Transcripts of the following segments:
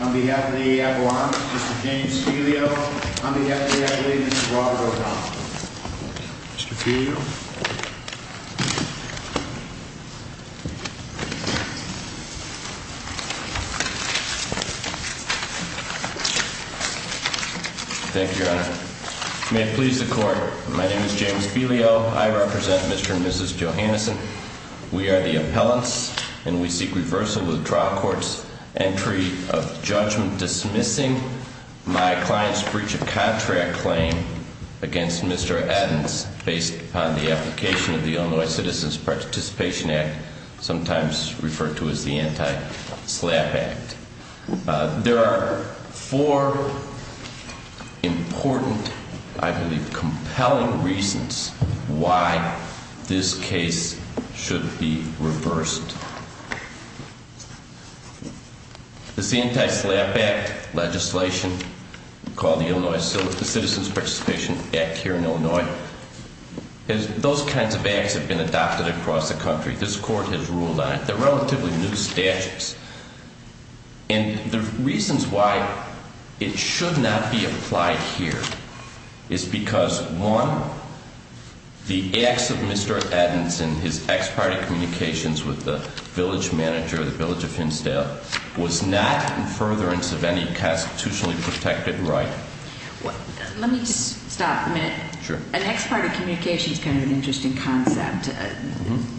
on behalf of the abalone. Mr James Helio on behalf of the abalone, Mr Robert O'Donnell. Thank you, Your Honor. May it please the court. My name is James Helio. I represent Mr and Mrs Johanneson. We are the appellants and we seek reversal of the trial court's entry of judgment dismissing my client's breach of contract claim against Mr Eddins based upon the application of the Illinois Citizens Participation Act. Sometimes referred to as the Anti-SLAPP Act. There are four important, I believe compelling reasons why this case should be reversed. The Anti-SLAPP Act legislation called the Illinois Citizens Participation Act here in Illinois. Those kinds of acts have been adopted across the country. This court has ruled on it. They're relatively new statutes. And the reasons why it should not be applied here is because one, the acts of Mr Eddins in his ex-party communications with the village manager, the village of Hinsdale, was not in furtherance of any constitutionally protected right. Let me just stop a minute. Sure. An ex-party communication is kind of an interesting concept.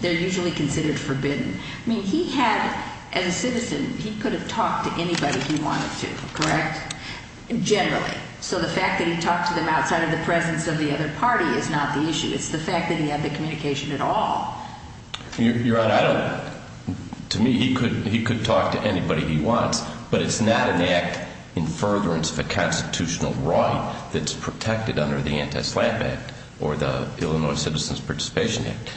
They're usually considered forbidden. I mean, he had, as a citizen, he could have talked to anybody he wanted to, correct? Generally. So the fact that he talked to them outside of the presence of the other party is not the issue. It's the fact that he had the communication at all. Your Honor, I don't, to me, he could talk to anybody he wants, but it's not an act in furtherance of a constitutional right that's protected under the Anti-SLAPP Act or the Illinois Citizens Participation Act.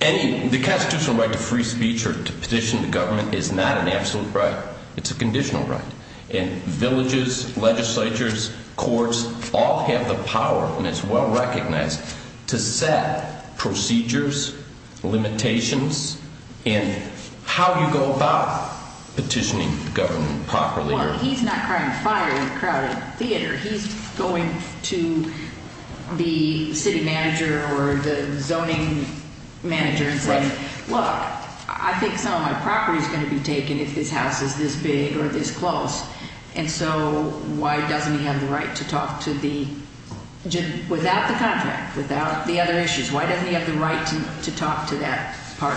The constitutional right to free speech or to petition the government is not an absolute right. It's a conditional right. And villages, legislatures, courts, all have the power, and it's well recognized, to set procedures, limitations, and how you go about petitioning the government properly. Well, he's not crying fire in a crowded theater. He's going to the city manager or the zoning manager and saying, look, I think some of my property is going to be taken if this house is this big or this close. And so why doesn't he have the right to talk to the, without the contract, without the other issues, why doesn't he have the right to talk to that,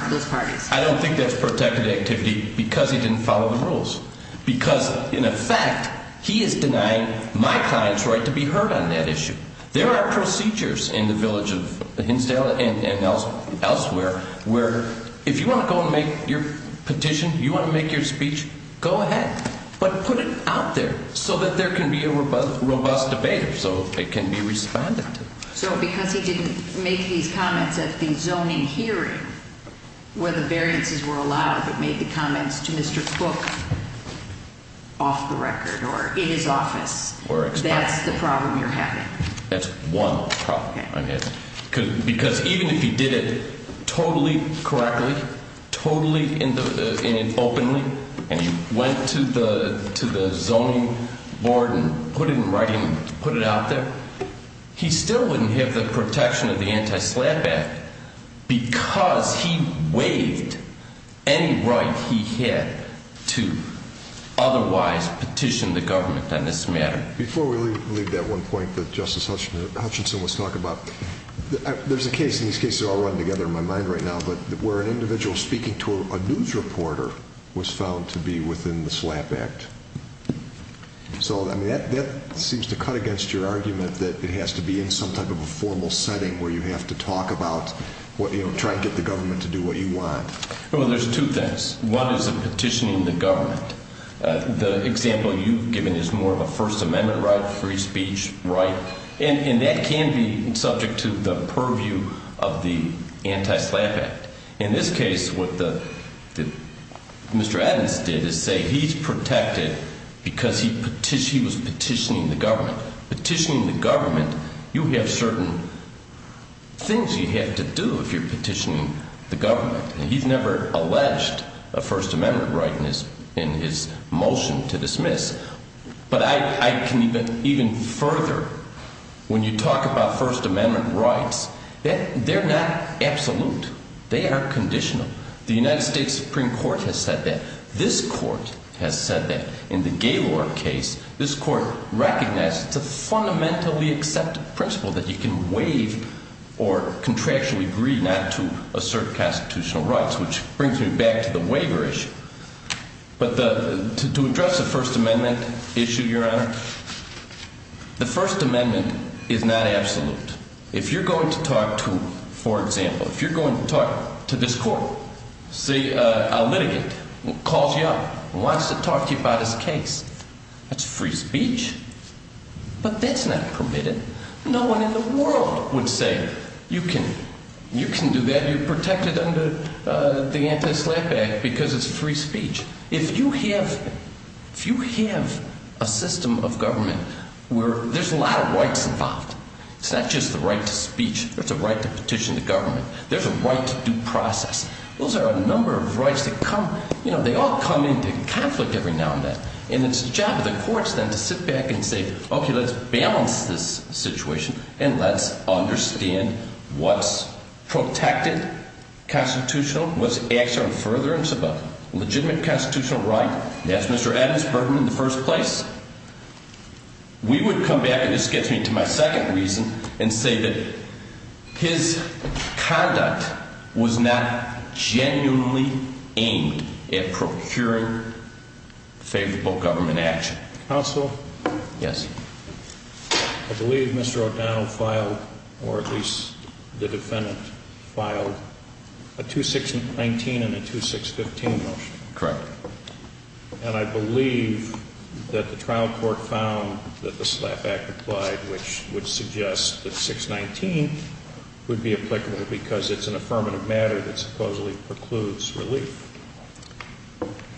those parties? I don't think that's protected activity because he didn't follow the rules. Because, in effect, he is denying my client's right to be heard on that issue. There are procedures in the village of Hinsdale and elsewhere where if you want to go and make your petition, you want to make your speech, go ahead. But put it out there so that there can be a robust debate, so it can be responded to. So because he didn't make these comments at the zoning hearing where the variances were allowed, but made the comments to Mr. Cook off the record or in his office, that's the problem you're having? That's one problem I'm having. Because even if he did it totally correctly, totally openly, and he went to the zoning board and put it in writing and put it out there, he still wouldn't have the protection of the anti-slap act because he waived any right he had to otherwise petition the government on this matter. Before we leave that one point that Justice Hutchinson was talking about, there's a case, and these cases are all running together in my mind right now, where an individual speaking to a news reporter was found to be within the slap act. So that seems to cut against your argument that it has to be in some type of a formal setting where you have to talk about, try to get the government to do what you want. Well, there's two things. One is the petitioning the government. The example you've given is more of a First Amendment right, free speech right, and that can be subject to the purview of the anti-slap act. In this case, what Mr. Adams did is say he's protected because he was petitioning the government. Petitioning the government, you have certain things you have to do if you're petitioning the government. He's never alleged a First Amendment right in his motion to dismiss. But I can even further, when you talk about First Amendment rights, they're not absolute. They are conditional. The United States Supreme Court has said that. This court has said that. In the Gaylor case, this court recognized it's a fundamentally accepted principle that you can waive or contractually agree not to assert constitutional rights, which brings me back to the waiver issue. But to address the First Amendment issue, Your Honor, the First Amendment is not absolute. If you're going to talk to, for example, if you're going to talk to this court, say a litigant calls you up and wants to talk to you about his case, that's free speech. But that's not permitted. No one in the world would say you can do that, you're protected under the anti-slap act because it's free speech. If you have a system of government where there's a lot of rights involved, it's not just the right to speech or the right to petition the government, there's a right to due process. Those are a number of rights that come, you know, they all come into conflict every now and then. And it's the job of the courts then to sit back and say, okay, let's balance this situation and let's understand what's protected constitutional, what's acts on furtherance of a legitimate constitutional right. That's Mr. Adams' burden in the first place. We would come back, and this gets me to my second reason, and say that his conduct was not genuinely aimed at procuring favorable government action. Counsel? Yes. I believe Mr. O'Donnell filed, or at least the defendant filed, a 2619 and a 2615 motion. Correct. And I believe that the trial court found that the slap act applied, which would suggest that 619 would be applicable because it's an affirmative matter that supposedly precludes relief.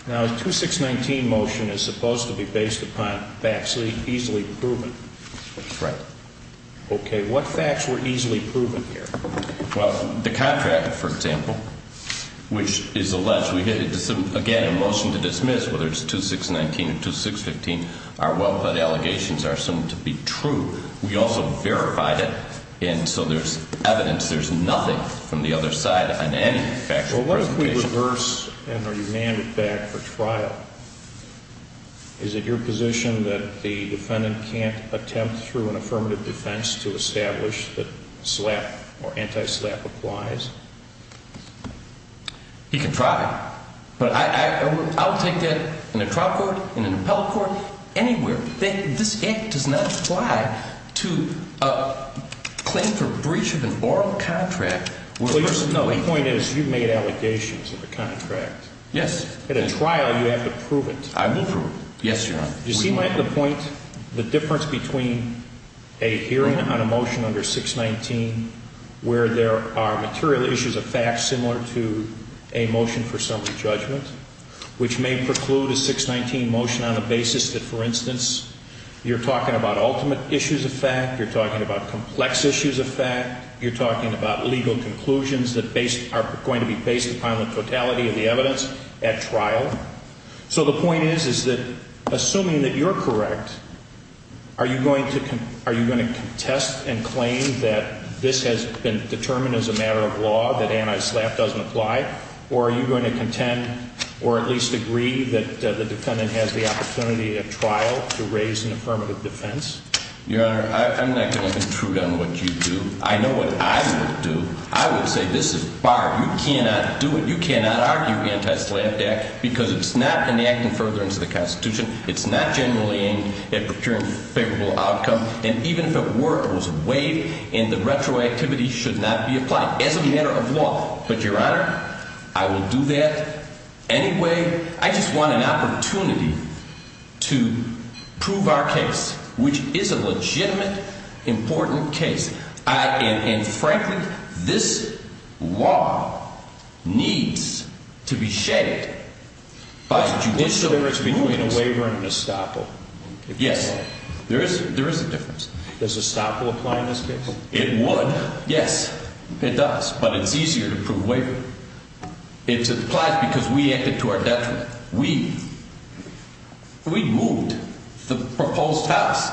Now, a 2619 motion is supposed to be based upon facts easily proven. Right. Okay. What facts were easily proven here? Well, the contract, for example, which is alleged, again, a motion to dismiss, whether it's 2619 or 2615, our well-pled allegations are assumed to be true. We also verified it, and so there's evidence, there's nothing from the other side on any factual presentation. Well, what if we reverse and are demanded back for trial? Is it your position that the defendant can't attempt through an affirmative defense to establish that slap or anti-slap applies? He can try. But I'll take that in a trial court, in an appellate court, anywhere. This act does not apply to a claim for breach of an oral contract. Well, your point is you've made allegations of a contract. Yes. At a trial, you have to prove it. I will prove it. Yes, Your Honor. You see, Mike, the point, the difference between a hearing on a motion under 619 where there are material issues of fact similar to a motion for summary judgment, which may preclude a 619 motion on the basis that, for instance, you're talking about ultimate issues of fact, you're talking about complex issues of fact, you're talking about legal conclusions that are going to be based upon the totality of the evidence at trial. So the point is, is that assuming that you're correct, are you going to contest and claim that this has been determined as a matter of law, that anti-slap doesn't apply, or are you going to contend or at least agree that the defendant has the opportunity at trial to raise an affirmative defense? Your Honor, I'm not going to intrude on what you do. I know what I would do. I would say, this is barred. You cannot do it. You cannot argue anti-slap because it's not enacted further into the Constitution. It's not generally aimed at procuring favorable outcome. And even if it were, it was waived and the retroactivity should not be applied as a matter of law. But, Your Honor, I will do that anyway. I just want an opportunity to prove our case, which is a legitimate, important case. And frankly, this law needs to be shaped by judicial provings. So there is a waiver and an estoppel? Yes. There is a difference. Does estoppel apply in this case? It would. Yes, it does. But it's easier to prove waiver. It applies because we acted to our detriment. We moved the proposed house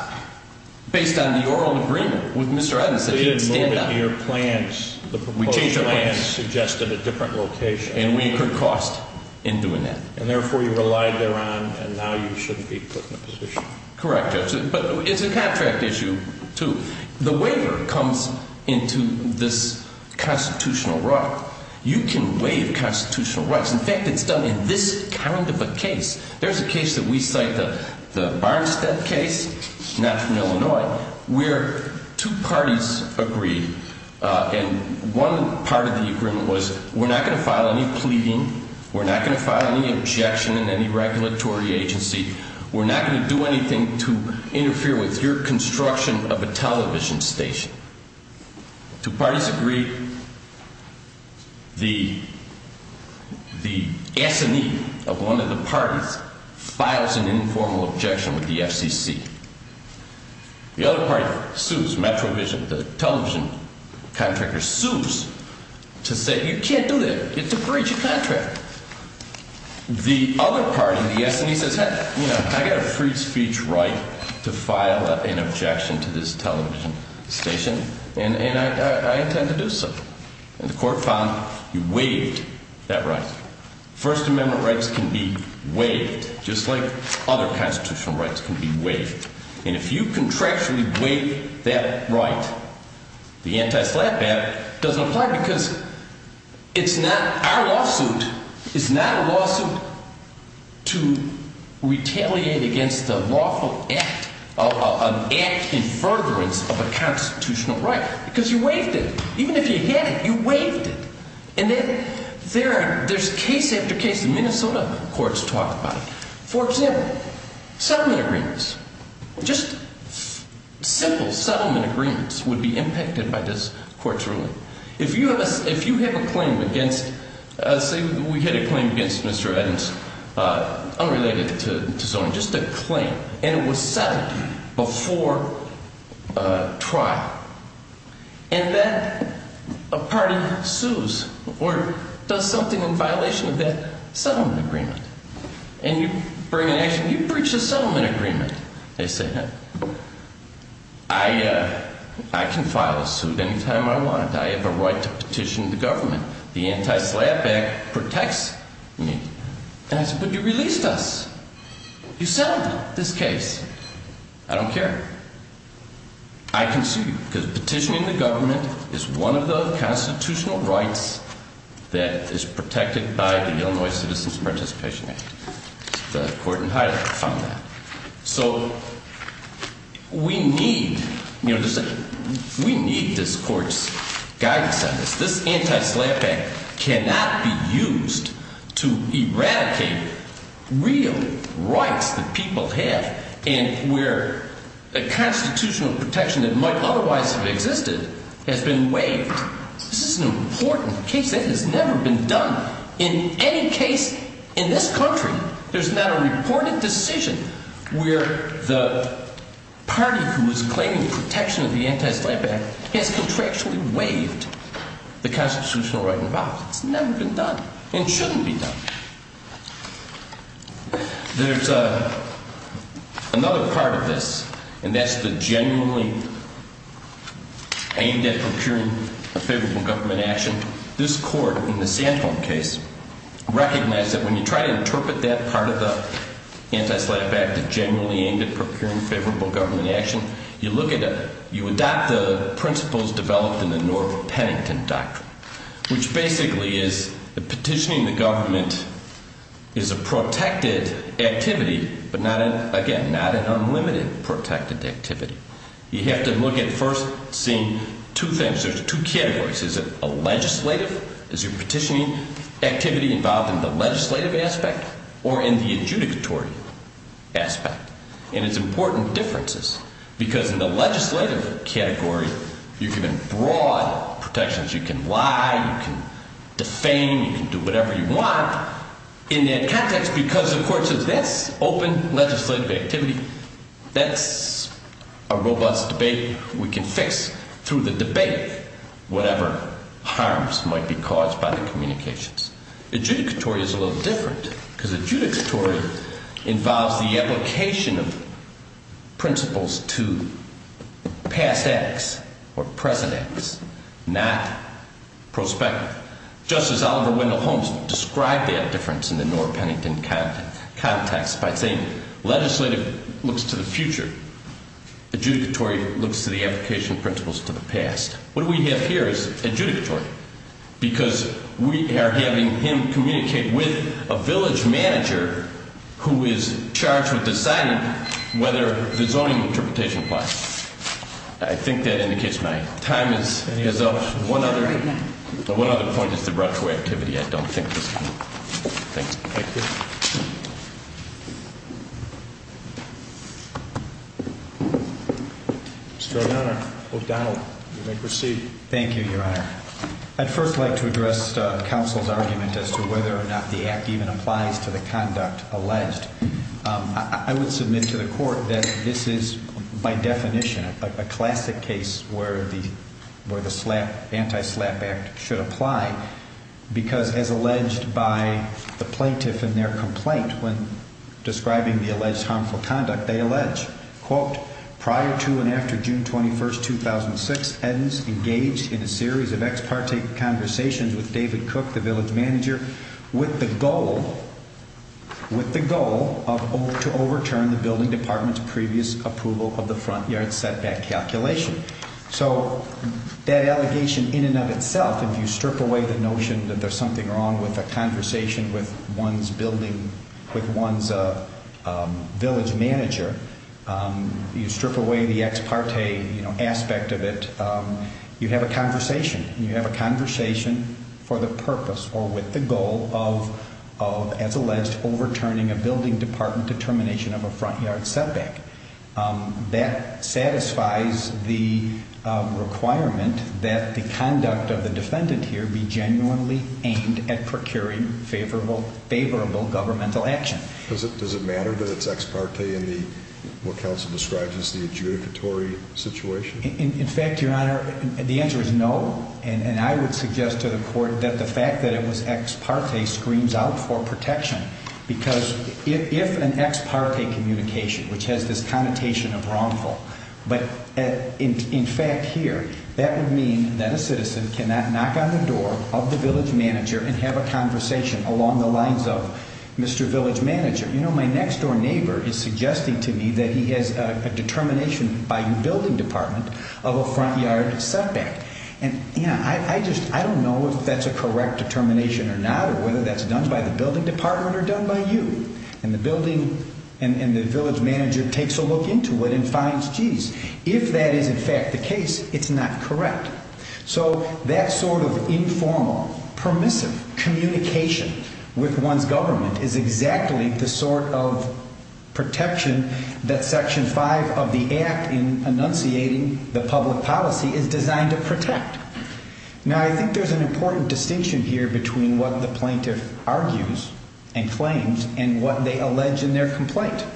based on the oral agreement with Mr. Edmondson. They didn't move it to your plans. The proposed plans suggested a different location. And we incurred cost in doing that. And therefore, you relied thereon and now you shouldn't be put in a position. Correct, Judge. But it's a contract issue, too. The waiver comes into this constitutional right. You can waive constitutional rights. In fact, it's done in this kind of a case. There's a case that we cite, the Barnstead case, not from Illinois, where two parties agreed and one part of the agreement was we're not going to file any pleading, we're not going to file any objection in any regulatory agency, we're not going to do anything to interfere with your construction of a television station. Two parties agreed. The S&E of one of the parties files an informal objection with the FCC. The other party sues Metro Vision, the television contractor sues to say you can't do that. It's a breach of contract. The other party, the S&E, says hey, I've got a free speech right to file an objection to this television station and I intend to do so. And the court found you waived that right. First Amendment rights can be waived just like other constitutional rights can be waived. And if you contractually waive that right, the anti-SLAPP Act doesn't apply because it's not our lawsuit. It's not a lawsuit to retaliate against the lawful act of an act in furtherance of a constitutional right because you waived it. Just simple settlement agreements would be impacted by this court's ruling. If you have a claim against, say we had a claim against Mr. Eddins, unrelated to zoning, just a claim and it was settled before trial and then a party sues or does something in violation of that settlement agreement and you bring an action, you breach the settlement agreement. They say, I can file a suit any time I want. I have a right to petition the government. The anti-SLAPP Act protects me. And I say, but you released us. You settled this case. I don't care. I can sue you because petitioning the government is one of the constitutional rights that is protected by the Illinois Citizens Participation Act. So we need this court's guidance on this. This anti-SLAPP Act cannot be used to eradicate real rights that people have and where a constitutional protection that might otherwise have existed has been waived. This is an important case that has never been done in any case in this country. There's not a reported decision where the party who is claiming protection of the anti-SLAPP Act has contractually waived the constitutional right involved. It's never been done and shouldn't be done. There's another part of this, and that's the genuinely aimed at procuring a favorable government action. This court in the Sandholm case recognized that when you try to interpret that part of the anti-SLAPP Act, the genuinely aimed at procuring favorable government action, you look at it, you adopt the principles developed in the Norbert Pennington Doctrine, which basically is the petitioning the government. Petitioning the government is a protected activity, but again, not an unlimited protected activity. You have to look at first seeing two things. There's two categories. Is it a legislative? Is your petitioning activity involved in the legislative aspect or in the adjudicatory aspect? And it's important differences because in the legislative category, you've given broad protections. You can lie, you can defame, you can do whatever you want in that context because the court says that's open legislative activity. That's a robust debate we can fix through the debate, whatever harms might be caused by the communications. Adjudicatory is a little different because adjudicatory involves the application of principles to past acts or present acts, not prospect. Just as Oliver Wendell Holmes described that difference in the Norbert Pennington context by saying legislative looks to the future, adjudicatory looks to the application of principles to the past. What we have here is adjudicatory because we are having him communicate with a village manager who is charged with deciding whether the zoning interpretation applies. I think that indicates my time is up. One other point is the route to activity. I don't think this one. Thank you. Mr. O'Donnell, you may proceed. Thank you, Your Honor. I'd first like to address the council's argument as to whether or not the act even applies to the conduct alleged. I would submit to the court that this is by definition a classic case where the where the slap anti slap act should apply. Because, as alleged by the plaintiff in their complaint when describing the alleged harmful conduct, they allege, quote, prior to and after June 21st, 2006, Edens engaged in a series of ex parte conversations with David Cook, the village manager, with the goal, with the goal to overturn the building department's previous approval of the front yard setback calculation. So that allegation in and of itself, if you strip away the notion that there's something wrong with a conversation with one's building, with one's village manager, you strip away the ex parte aspect of it, you have a conversation and you have a conversation for the purpose or with the goal of as alleged overturning a building department determination of a front yard setback. That satisfies the requirement that the conduct of the defendant here be genuinely aimed at procuring favorable governmental action. Does it matter that it's ex parte in what counsel describes as the adjudicatory situation? In fact, Your Honor, the answer is no, and I would suggest to the court that the fact that it was ex parte screams out for protection. Because if an ex parte communication, which has this connotation of wrongful, but in fact here, that would mean that a citizen cannot knock on the door of the village manager and have a conversation along the lines of Mr. Village Manager. You know, my next door neighbor is suggesting to me that he has a determination by the building department of a front yard setback. And, you know, I just, I don't know if that's a correct determination or not or whether that's done by the building department or done by you. And the building and the village manager takes a look into it and finds, geez, if that is in fact the case, it's not correct. So that sort of informal, permissive communication with one's government is exactly the sort of protection that Section 5 of the Act in enunciating the public policy is designed to protect. Now, I think there's an important distinction here between what the plaintiff argues and claims and what they allege in their complaint.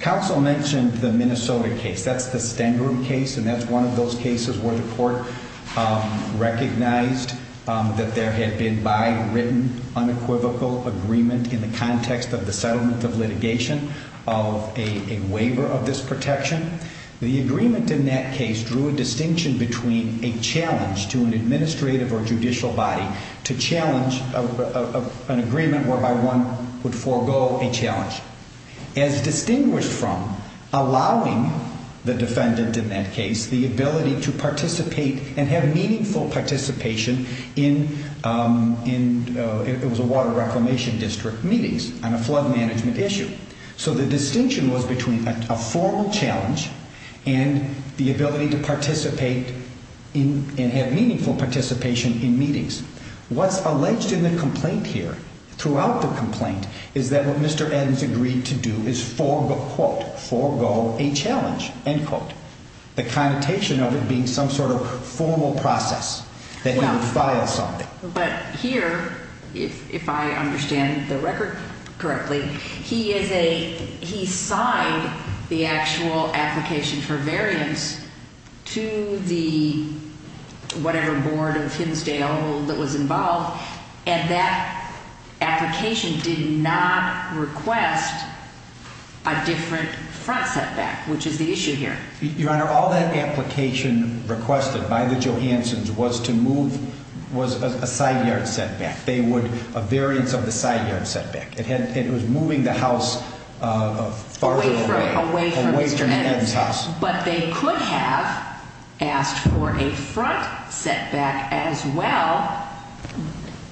Counsel mentioned the Minnesota case. That's the Stengrum case, and that's one of those cases where the court recognized that there had been by written unequivocal agreement in the context of the settlement of litigation of a waiver of this protection. The agreement in that case drew a distinction between a challenge to an administrative or judicial body to challenge an agreement whereby one would forego a challenge. As distinguished from allowing the defendant in that case the ability to participate and have meaningful participation in, it was a water reclamation district meetings on a flood management issue. So the distinction was between a formal challenge and the ability to participate and have meaningful participation in meetings. What's alleged in the complaint here, throughout the complaint, is that what Mr. Adams agreed to do is forego, quote, forego a challenge, end quote. The connotation of it being some sort of formal process that he would file something. But here, if I understand the record correctly, he signed the actual application for variance to the whatever board of Hinsdale that was involved. And that application did not request a different front setback, which is the issue here. Your Honor, all that application requested by the Johanssons was to move, was a side yard setback. They would, a variance of the side yard setback. It was moving the house farther away. Away from Mr. Adams. Away from Ed's house. But they could have asked for a front setback as well,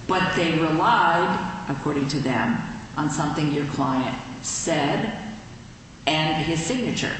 but they relied, according to them, on something your client said and his signature.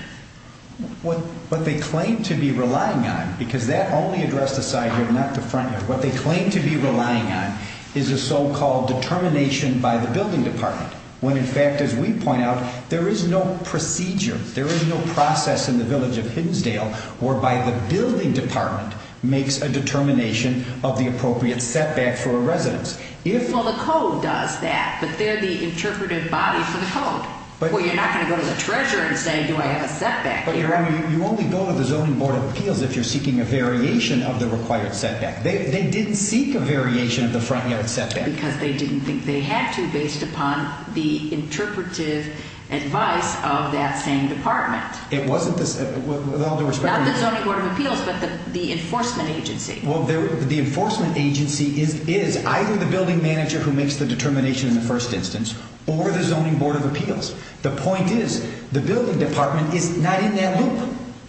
What they claim to be relying on, because that only addressed the side yard, not the front yard. What they claim to be relying on is a so-called determination by the building department. When, in fact, as we point out, there is no procedure, there is no process in the village of Hinsdale, whereby the building department makes a determination of the appropriate setback for a residence. Well, the code does that, but they're the interpretive body for the code. Well, you're not going to go to the treasurer and say, do I have a setback here? Your Honor, you only go to the Zoning Board of Appeals if you're seeking a variation of the required setback. They didn't seek a variation of the front yard setback. Because they didn't think they had to, based upon the interpretive advice of that same department. It wasn't the, with all due respect. Not the Zoning Board of Appeals, but the enforcement agency. Well, the enforcement agency is either the building manager who makes the determination in the first instance, or the Zoning Board of Appeals. The point is, the building department is not in that loop.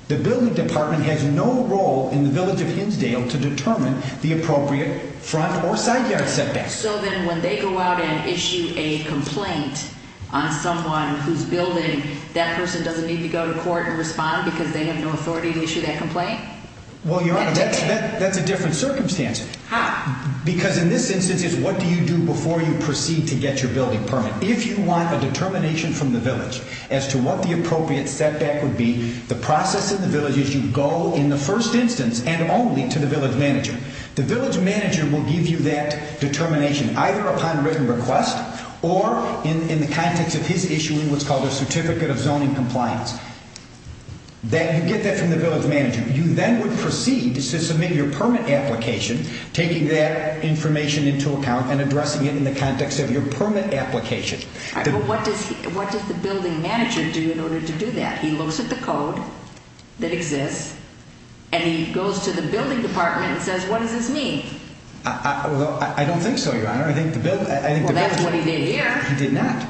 The building department has no role in the village of Hinsdale to determine the appropriate front or side yard setback. So then when they go out and issue a complaint on someone who's building, that person doesn't need to go to court and respond because they have no authority to issue that complaint? Well, Your Honor, that's a different circumstance. How? Because in this instance, it's what do you do before you proceed to get your building permit. If you want a determination from the village as to what the appropriate setback would be, the process in the village is you go in the first instance and only to the village manager. The village manager will give you that determination either upon written request or in the context of his issuing what's called a Certificate of Zoning Compliance. You get that from the village manager. You then would proceed to submit your permit application, taking that information into account and addressing it in the context of your permit application. All right, but what does the building manager do in order to do that? He looks at the code that exists, and he goes to the building department and says, What does this mean? I don't think so, Your Honor. Well, that's what he did here. He did not.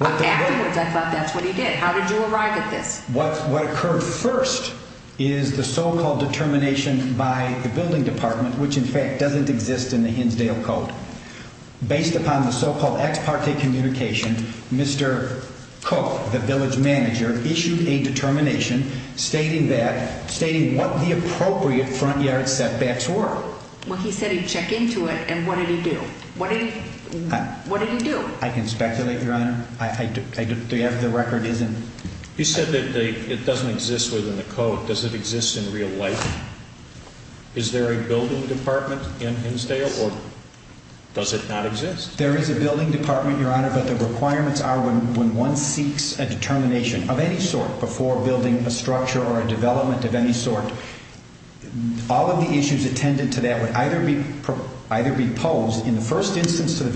Afterwards, I thought that's what he did. How did you arrive at this? What occurred first is the so-called determination by the building department, which in fact doesn't exist in the Hinsdale Code. Based upon the so-called ex parte communication, Mr. Cook, the village manager, issued a determination stating that, stating what the appropriate front yard setbacks were. Well, he said he'd check into it, and what did he do? What did he do? I can speculate, Your Honor. The record isn't. He said that it doesn't exist within the code. Does it exist in real life? Is there a building department in Hinsdale, or does it not exist? There is a building department, Your Honor, but the requirements are when one seeks a determination of any sort before building a structure or a development of any sort, all of the issues attended to that would either be posed in the first instance to the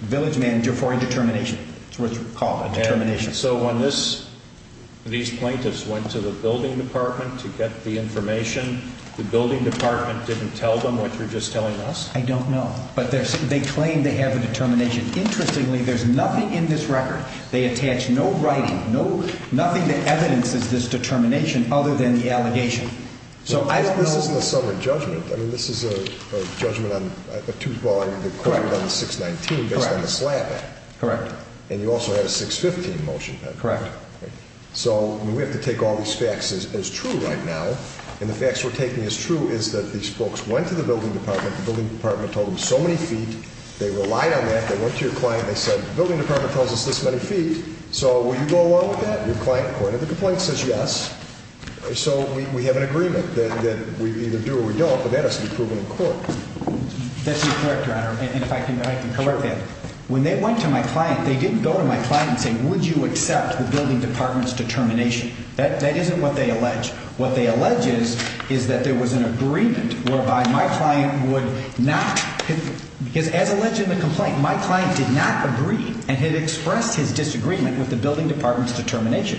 village manager for a determination. That's what it's called, a determination. So when these plaintiffs went to the building department to get the information, the building department didn't tell them what you're just telling us? I don't know. But they claim they have a determination. Interestingly, there's nothing in this record. They attach no writing, nothing that evidences this determination other than the allegation. So I don't know. This isn't a summary judgment. I mean, this is a judgment on a two-volume record on the 619 based on the SLAPP Act. Correct. And you also had a 615 motion. Correct. So we have to take all these facts as true right now, and the facts we're taking as true is that these folks went to the building department. The building department told them so many feet. They relied on that. They went to your client. They said, The building department tells us this many feet. So will you go along with that? Your client pointed the complaint and says yes. So we have an agreement that we either do or we don't, but that has to be proven in court. That's incorrect, Your Honor, and if I can correct that. When they went to my client, they didn't go to my client and say, Would you accept the building department's determination? That isn't what they allege. What they allege is that there was an agreement whereby my client would not, because as alleged in the complaint, my client did not agree and had expressed his disagreement with the building department's determination.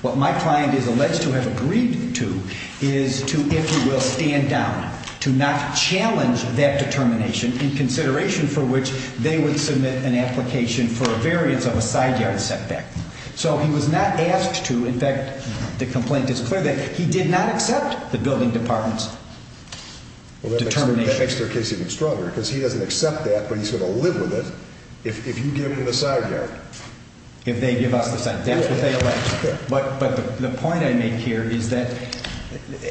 What my client is alleged to have agreed to is to, if you will, stand down, to not challenge that determination in consideration for which they would submit an application for a variance of a side yard setback. So he was not asked to. In fact, the complaint is clear that he did not accept the building department's determination. That makes their case even stronger because he doesn't accept that, but he's going to live with it if you give him the side yard. If they give us the side yard. That's what they allege. But the point I make here is that,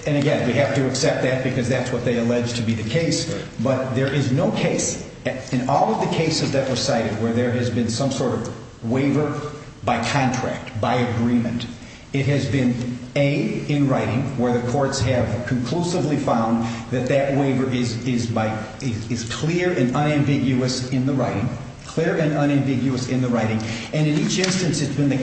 and again, we have to accept that because that's what they allege to be the case, but there is no case in all of the cases that were cited where there has been some sort of waiver by contract, by agreement. It has been A, in writing, where the courts have conclusively found that that waiver is clear and unambiguous in the writing, clear and unambiguous in the writing, and in each instance it's been in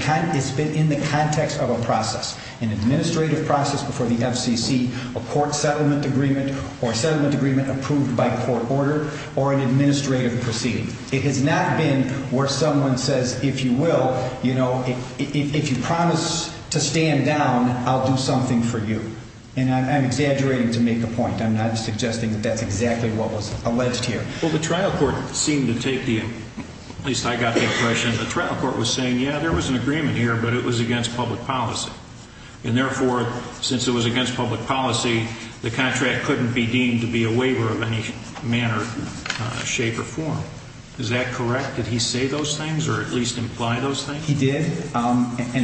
the context of a process, an administrative process before the FCC, a court settlement agreement or a settlement agreement approved by court order or an administrative proceeding. It has not been where someone says, if you will, if you promise to stand down, I'll do something for you. And I'm exaggerating to make a point. I'm not suggesting that that's exactly what was alleged here. Well, the trial court seemed to take the, at least I got the impression, the trial court was saying, yeah, there was an agreement here, but it was against public policy. And therefore, since it was against public policy, the contract couldn't be deemed to be a waiver of any manner, shape, or form. Is that correct? Did he say those things or at least imply those things? He did. And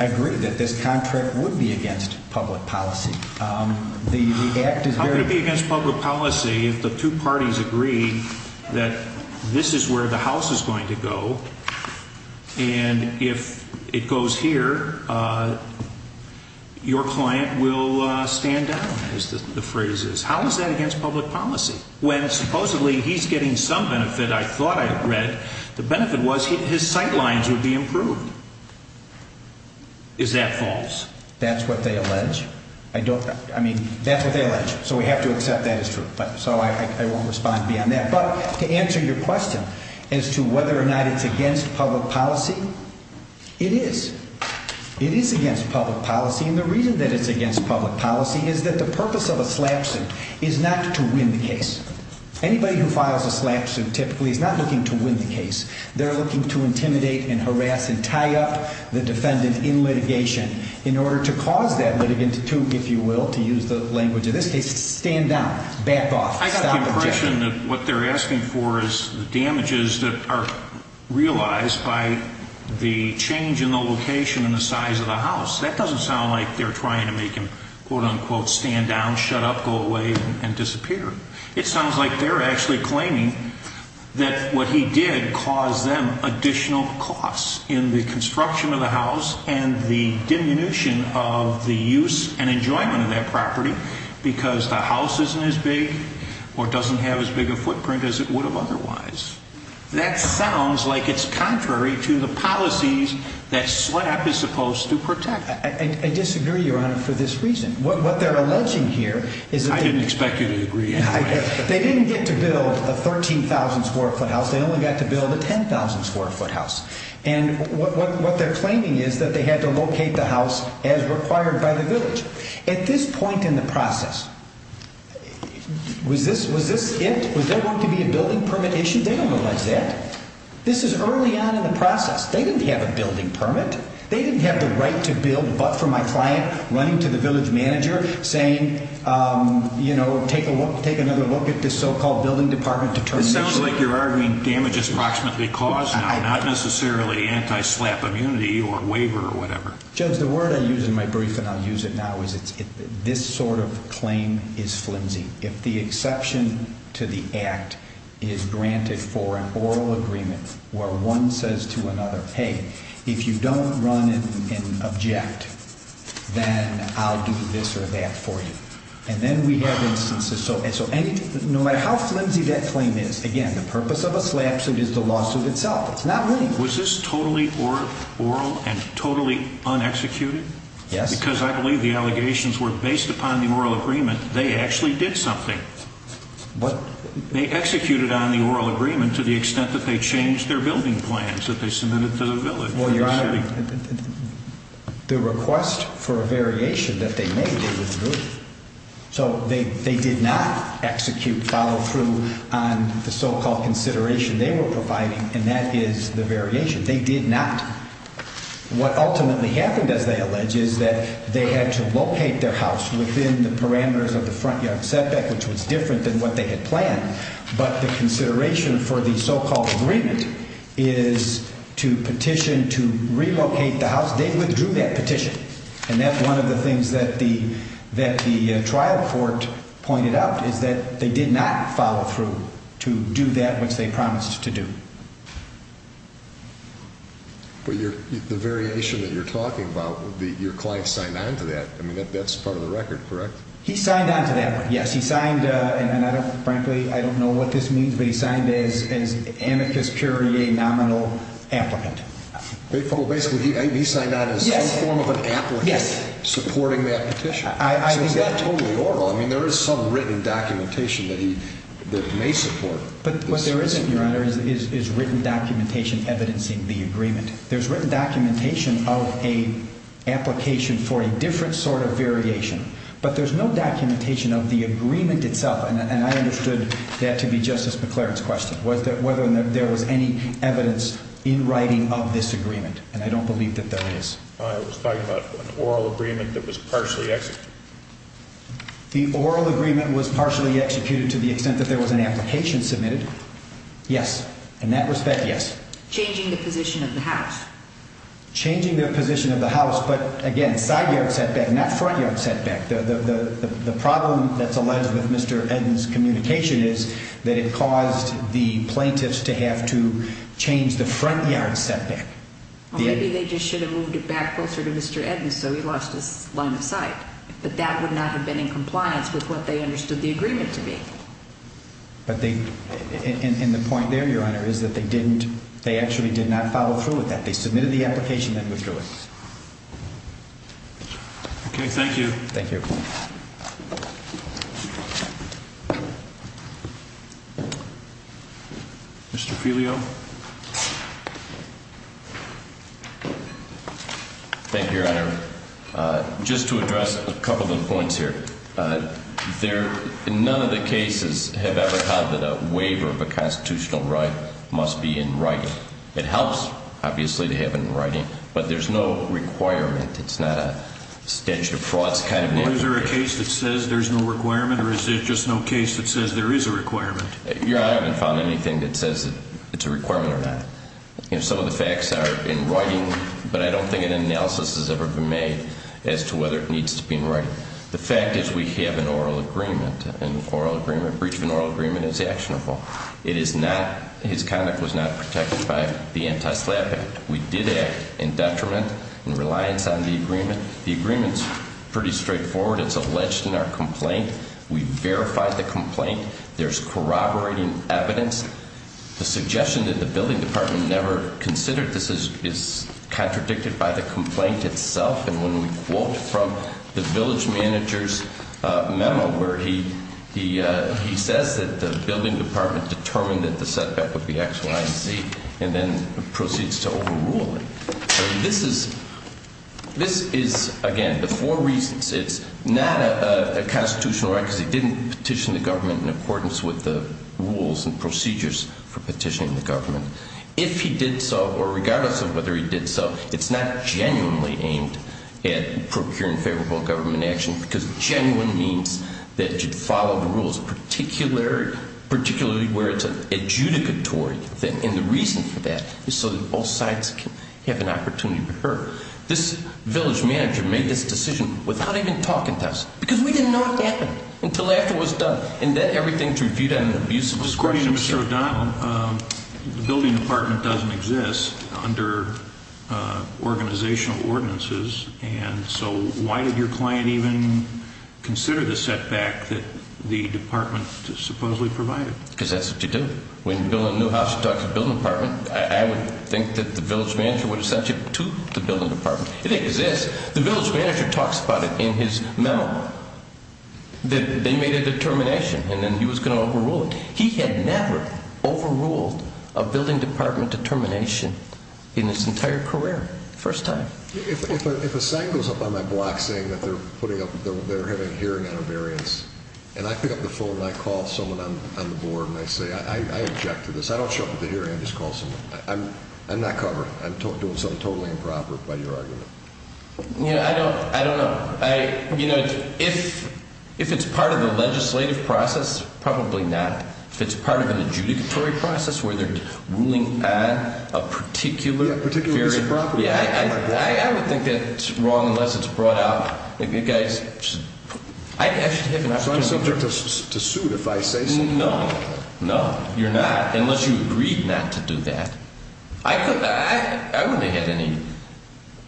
I agree that this contract would be against public policy. How could it be against public policy if the two parties agree that this is where the House is going to go and if it goes here, your client will stand down, as the phrase is? How is that against public policy? When supposedly he's getting some benefit I thought I had read, the benefit was his sight lines would be improved. Is that false? That's what they allege. I mean, that's what they allege. So we have to accept that as true. So I won't respond beyond that. But to answer your question as to whether or not it's against public policy, it is. It is against public policy, and the reason that it's against public policy is that the purpose of a slap suit is not to win the case. Anybody who files a slap suit typically is not looking to win the case. They're looking to intimidate and harass and tie up the defendant in litigation in order to cause that litigant to, if you will, to use the language in this case, stand down, back off, stop the litigation. The question that what they're asking for is the damages that are realized by the change in the location and the size of the house. That doesn't sound like they're trying to make him, quote, unquote, stand down, shut up, go away, and disappear. It sounds like they're actually claiming that what he did caused them additional costs in the construction of the house and the diminution of the use and enjoyment of that property because the house isn't as big or doesn't have as big a footprint as it would have otherwise. That sounds like it's contrary to the policies that slap is supposed to protect. I disagree, Your Honor, for this reason. What they're alleging here is that they... I didn't expect you to agree anyway. They didn't get to build a 13,000-square-foot house. They only got to build a 10,000-square-foot house. And what they're claiming is that they had to locate the house as required by the villager. At this point in the process, was this it? Was there going to be a building permit issue? They don't realize that. This is early on in the process. They didn't have a building permit. They didn't have the right to build but for my client running to the village manager saying, you know, take another look at this so-called building department determination. This sounds like you're arguing damage is approximately caused now, not necessarily anti-slap immunity or waiver or whatever. Judge, the word I use in my brief and I'll use it now is this sort of claim is flimsy. If the exception to the act is granted for an oral agreement where one says to another, hey, if you don't run and object, then I'll do this or that for you. And then we have instances. So no matter how flimsy that claim is, again, the purpose of a slap suit is the lawsuit itself. It's not me. Was this totally oral and totally unexecuted? Yes. Because I believe the allegations were based upon the oral agreement. They actually did something. What? They executed on the oral agreement to the extent that they changed their building plans that they submitted to the village. Well, Your Honor, the request for a variation that they made was removed. So they did not execute follow-through on the so-called consideration they were providing, and that is the variation. They did not. What ultimately happened, as they allege, is that they had to locate their house within the parameters of the front yard setback, which was different than what they had planned. But the consideration for the so-called agreement is to petition to relocate the house. They withdrew that petition, and that's one of the things that the trial court pointed out, is that they did not follow through to do that which they promised to do. But the variation that you're talking about, your client signed on to that. I mean, that's part of the record, correct? He signed on to that one, yes. He signed, and frankly, I don't know what this means, but he signed as anarchist curiae nominal applicant. Well, basically, he signed on as some form of an applicant supporting that petition. So it's not totally oral. I mean, there is some written documentation that he may support. But what there isn't, Your Honor, is written documentation evidencing the agreement. There's written documentation of an application for a different sort of variation, but there's no documentation of the agreement itself, and I understood that to be Justice McClaren's question, whether there was any evidence in writing of this agreement, and I don't believe that there is. I was talking about an oral agreement that was partially executed. The oral agreement was partially executed to the extent that there was an application submitted, yes. In that respect, yes. Changing the position of the house. Changing the position of the house, but again, side yard setback, not front yard setback. The problem that's alleged with Mr. Eden's communication is that it caused the plaintiffs to have to change the front yard setback. Well, maybe they just should have moved it back closer to Mr. Eden so he lost his line of sight. But that would not have been in compliance with what they understood the agreement to be. And the point there, Your Honor, is that they actually did not follow through with that. They submitted the application and withdrew it. Okay, thank you. Thank you. Mr. Filio. Thank you, Your Honor. Just to address a couple of points here. None of the cases have ever had that a waiver of a constitutional right must be in writing. It helps, obviously, to have it in writing, but there's no requirement. It's not a statute of frauds kind of thing. Is there a case that says there's no requirement, or is there just no case that says there is a requirement? Your Honor, I haven't found anything that says it's a requirement or not. Some of the facts are in writing, but I don't think an analysis has ever been made as to whether it needs to be in writing. The fact is we have an oral agreement, and an oral agreement, breach of an oral agreement is actionable. It is not, his conduct was not protected by the Anti-SLAPP Act. We did act in detriment and reliance on the agreement. The agreement is pretty straightforward. It's alleged in our complaint. We verified the complaint. There's corroborating evidence. The suggestion that the building department never considered this is contradicted by the complaint itself. And when we quote from the village manager's memo where he says that the building department determined that the setback would be X, Y, and Z and then proceeds to overrule it. This is, again, the four reasons. It's not a constitutional right because he didn't petition the government in accordance with the rules and procedures for petitioning the government. If he did so, or regardless of whether he did so, it's not genuinely aimed at procuring favorable government action because genuine means that you'd follow the rules, particularly where it's an adjudicatory thing. And the reason for that is so that both sides can have an opportunity to occur. This village manager made this decision without even talking to us because we didn't know it happened until after it was done. And then everything's reviewed on an abuse of discretion. Mr. O'Donnell, the building department doesn't exist under organizational ordinances. And so why did your client even consider the setback that the department supposedly provided? Because that's what you do. When you build a new house, you talk to the building department. I would think that the village manager would have sent you to the building department. It exists. The village manager talks about it in his memo that they made a determination and then he was going to overrule it. He had never overruled a building department determination in his entire career, first time. If a sign goes up on my block saying that they're having a hearing on a variance and I pick up the phone and I call someone on the board and I say I object to this, I don't show up at the hearing, I just call someone, I'm not covered. I'm doing something totally improper by your argument. I don't know. If it's part of the legislative process, probably not. If it's part of an adjudicatory process where they're ruling on a particular – Particular misappropriation. I would think that's wrong unless it's brought out. I should have an opportunity to – Try something to suit if I say something. No. No, you're not, unless you agreed not to do that. I wouldn't have had any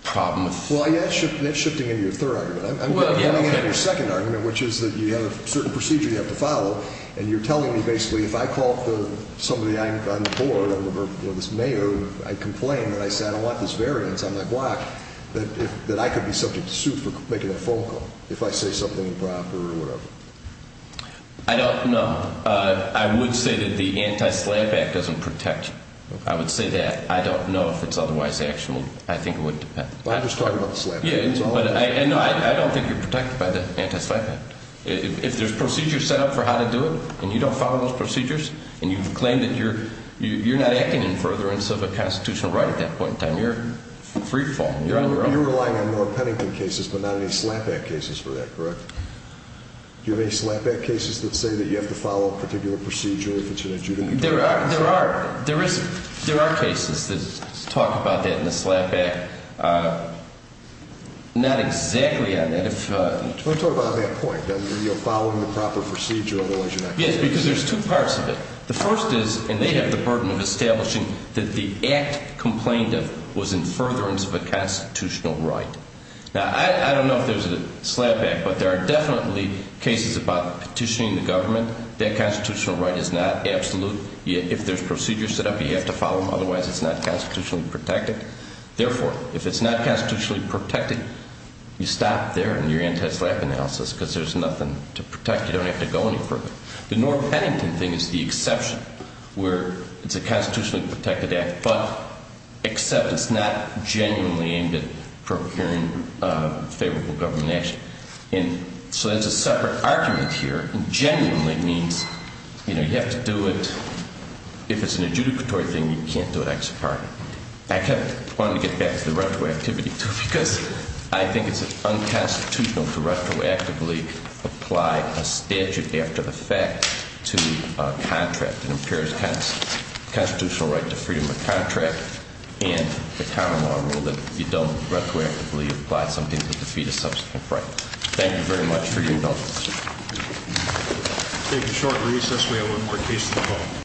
problem with – Well, yeah, that's shifting into your third argument. I'm getting at your second argument, which is that you have a certain procedure you have to follow and you're telling me basically if I call somebody on the board or this mayor, I complain and I say I don't want this variance on my block, that I could be subject to suit for making a phone call if I say something improper or whatever. I don't know. I would say that the Anti-SLAPP Act doesn't protect you. I would say that. I don't know if it's otherwise actionable. I think it would depend. I'm just talking about the SLAPP Act. No, I don't think you're protected by the Anti-SLAPP Act. If there's procedures set up for how to do it and you don't follow those procedures and you claim that you're not acting in furtherance of a constitutional right at that point in time, you're free-falling. You're relying on more Pennington cases but not any SLAPP Act cases for that, correct? Do you have any SLAPP Act cases that say that you have to follow a particular procedure if it's an adjudicatory process? There are cases that talk about that in the SLAPP Act. Not exactly on that. Let me talk about that point, that you're following the proper procedure otherwise you're not guilty. Yes, because there's two parts of it. The first is, and they have the burden of establishing that the act complained of was in furtherance of a constitutional right. Now, I don't know if there's a SLAPP Act, but there are definitely cases about petitioning the government. That constitutional right is not absolute. If there's procedures set up, you have to follow them, otherwise it's not constitutionally protected. Therefore, if it's not constitutionally protected, you stop there in your anti-SLAPP analysis because there's nothing to protect. You don't have to go any further. The Norm Pennington thing is the exception where it's a constitutionally protected act, but except it's not genuinely aimed at procuring favorable government action. So there's a separate argument here. Genuinely means you have to do it. If it's an adjudicatory thing, you can't do it. I kind of wanted to get back to the retroactivity because I think it's unconstitutional to retroactively apply a statute after the fact to a contract. It impairs constitutional right to freedom of contract and the common law rule that you don't retroactively apply something to defeat a subsequent right. Thank you very much for your indulgence.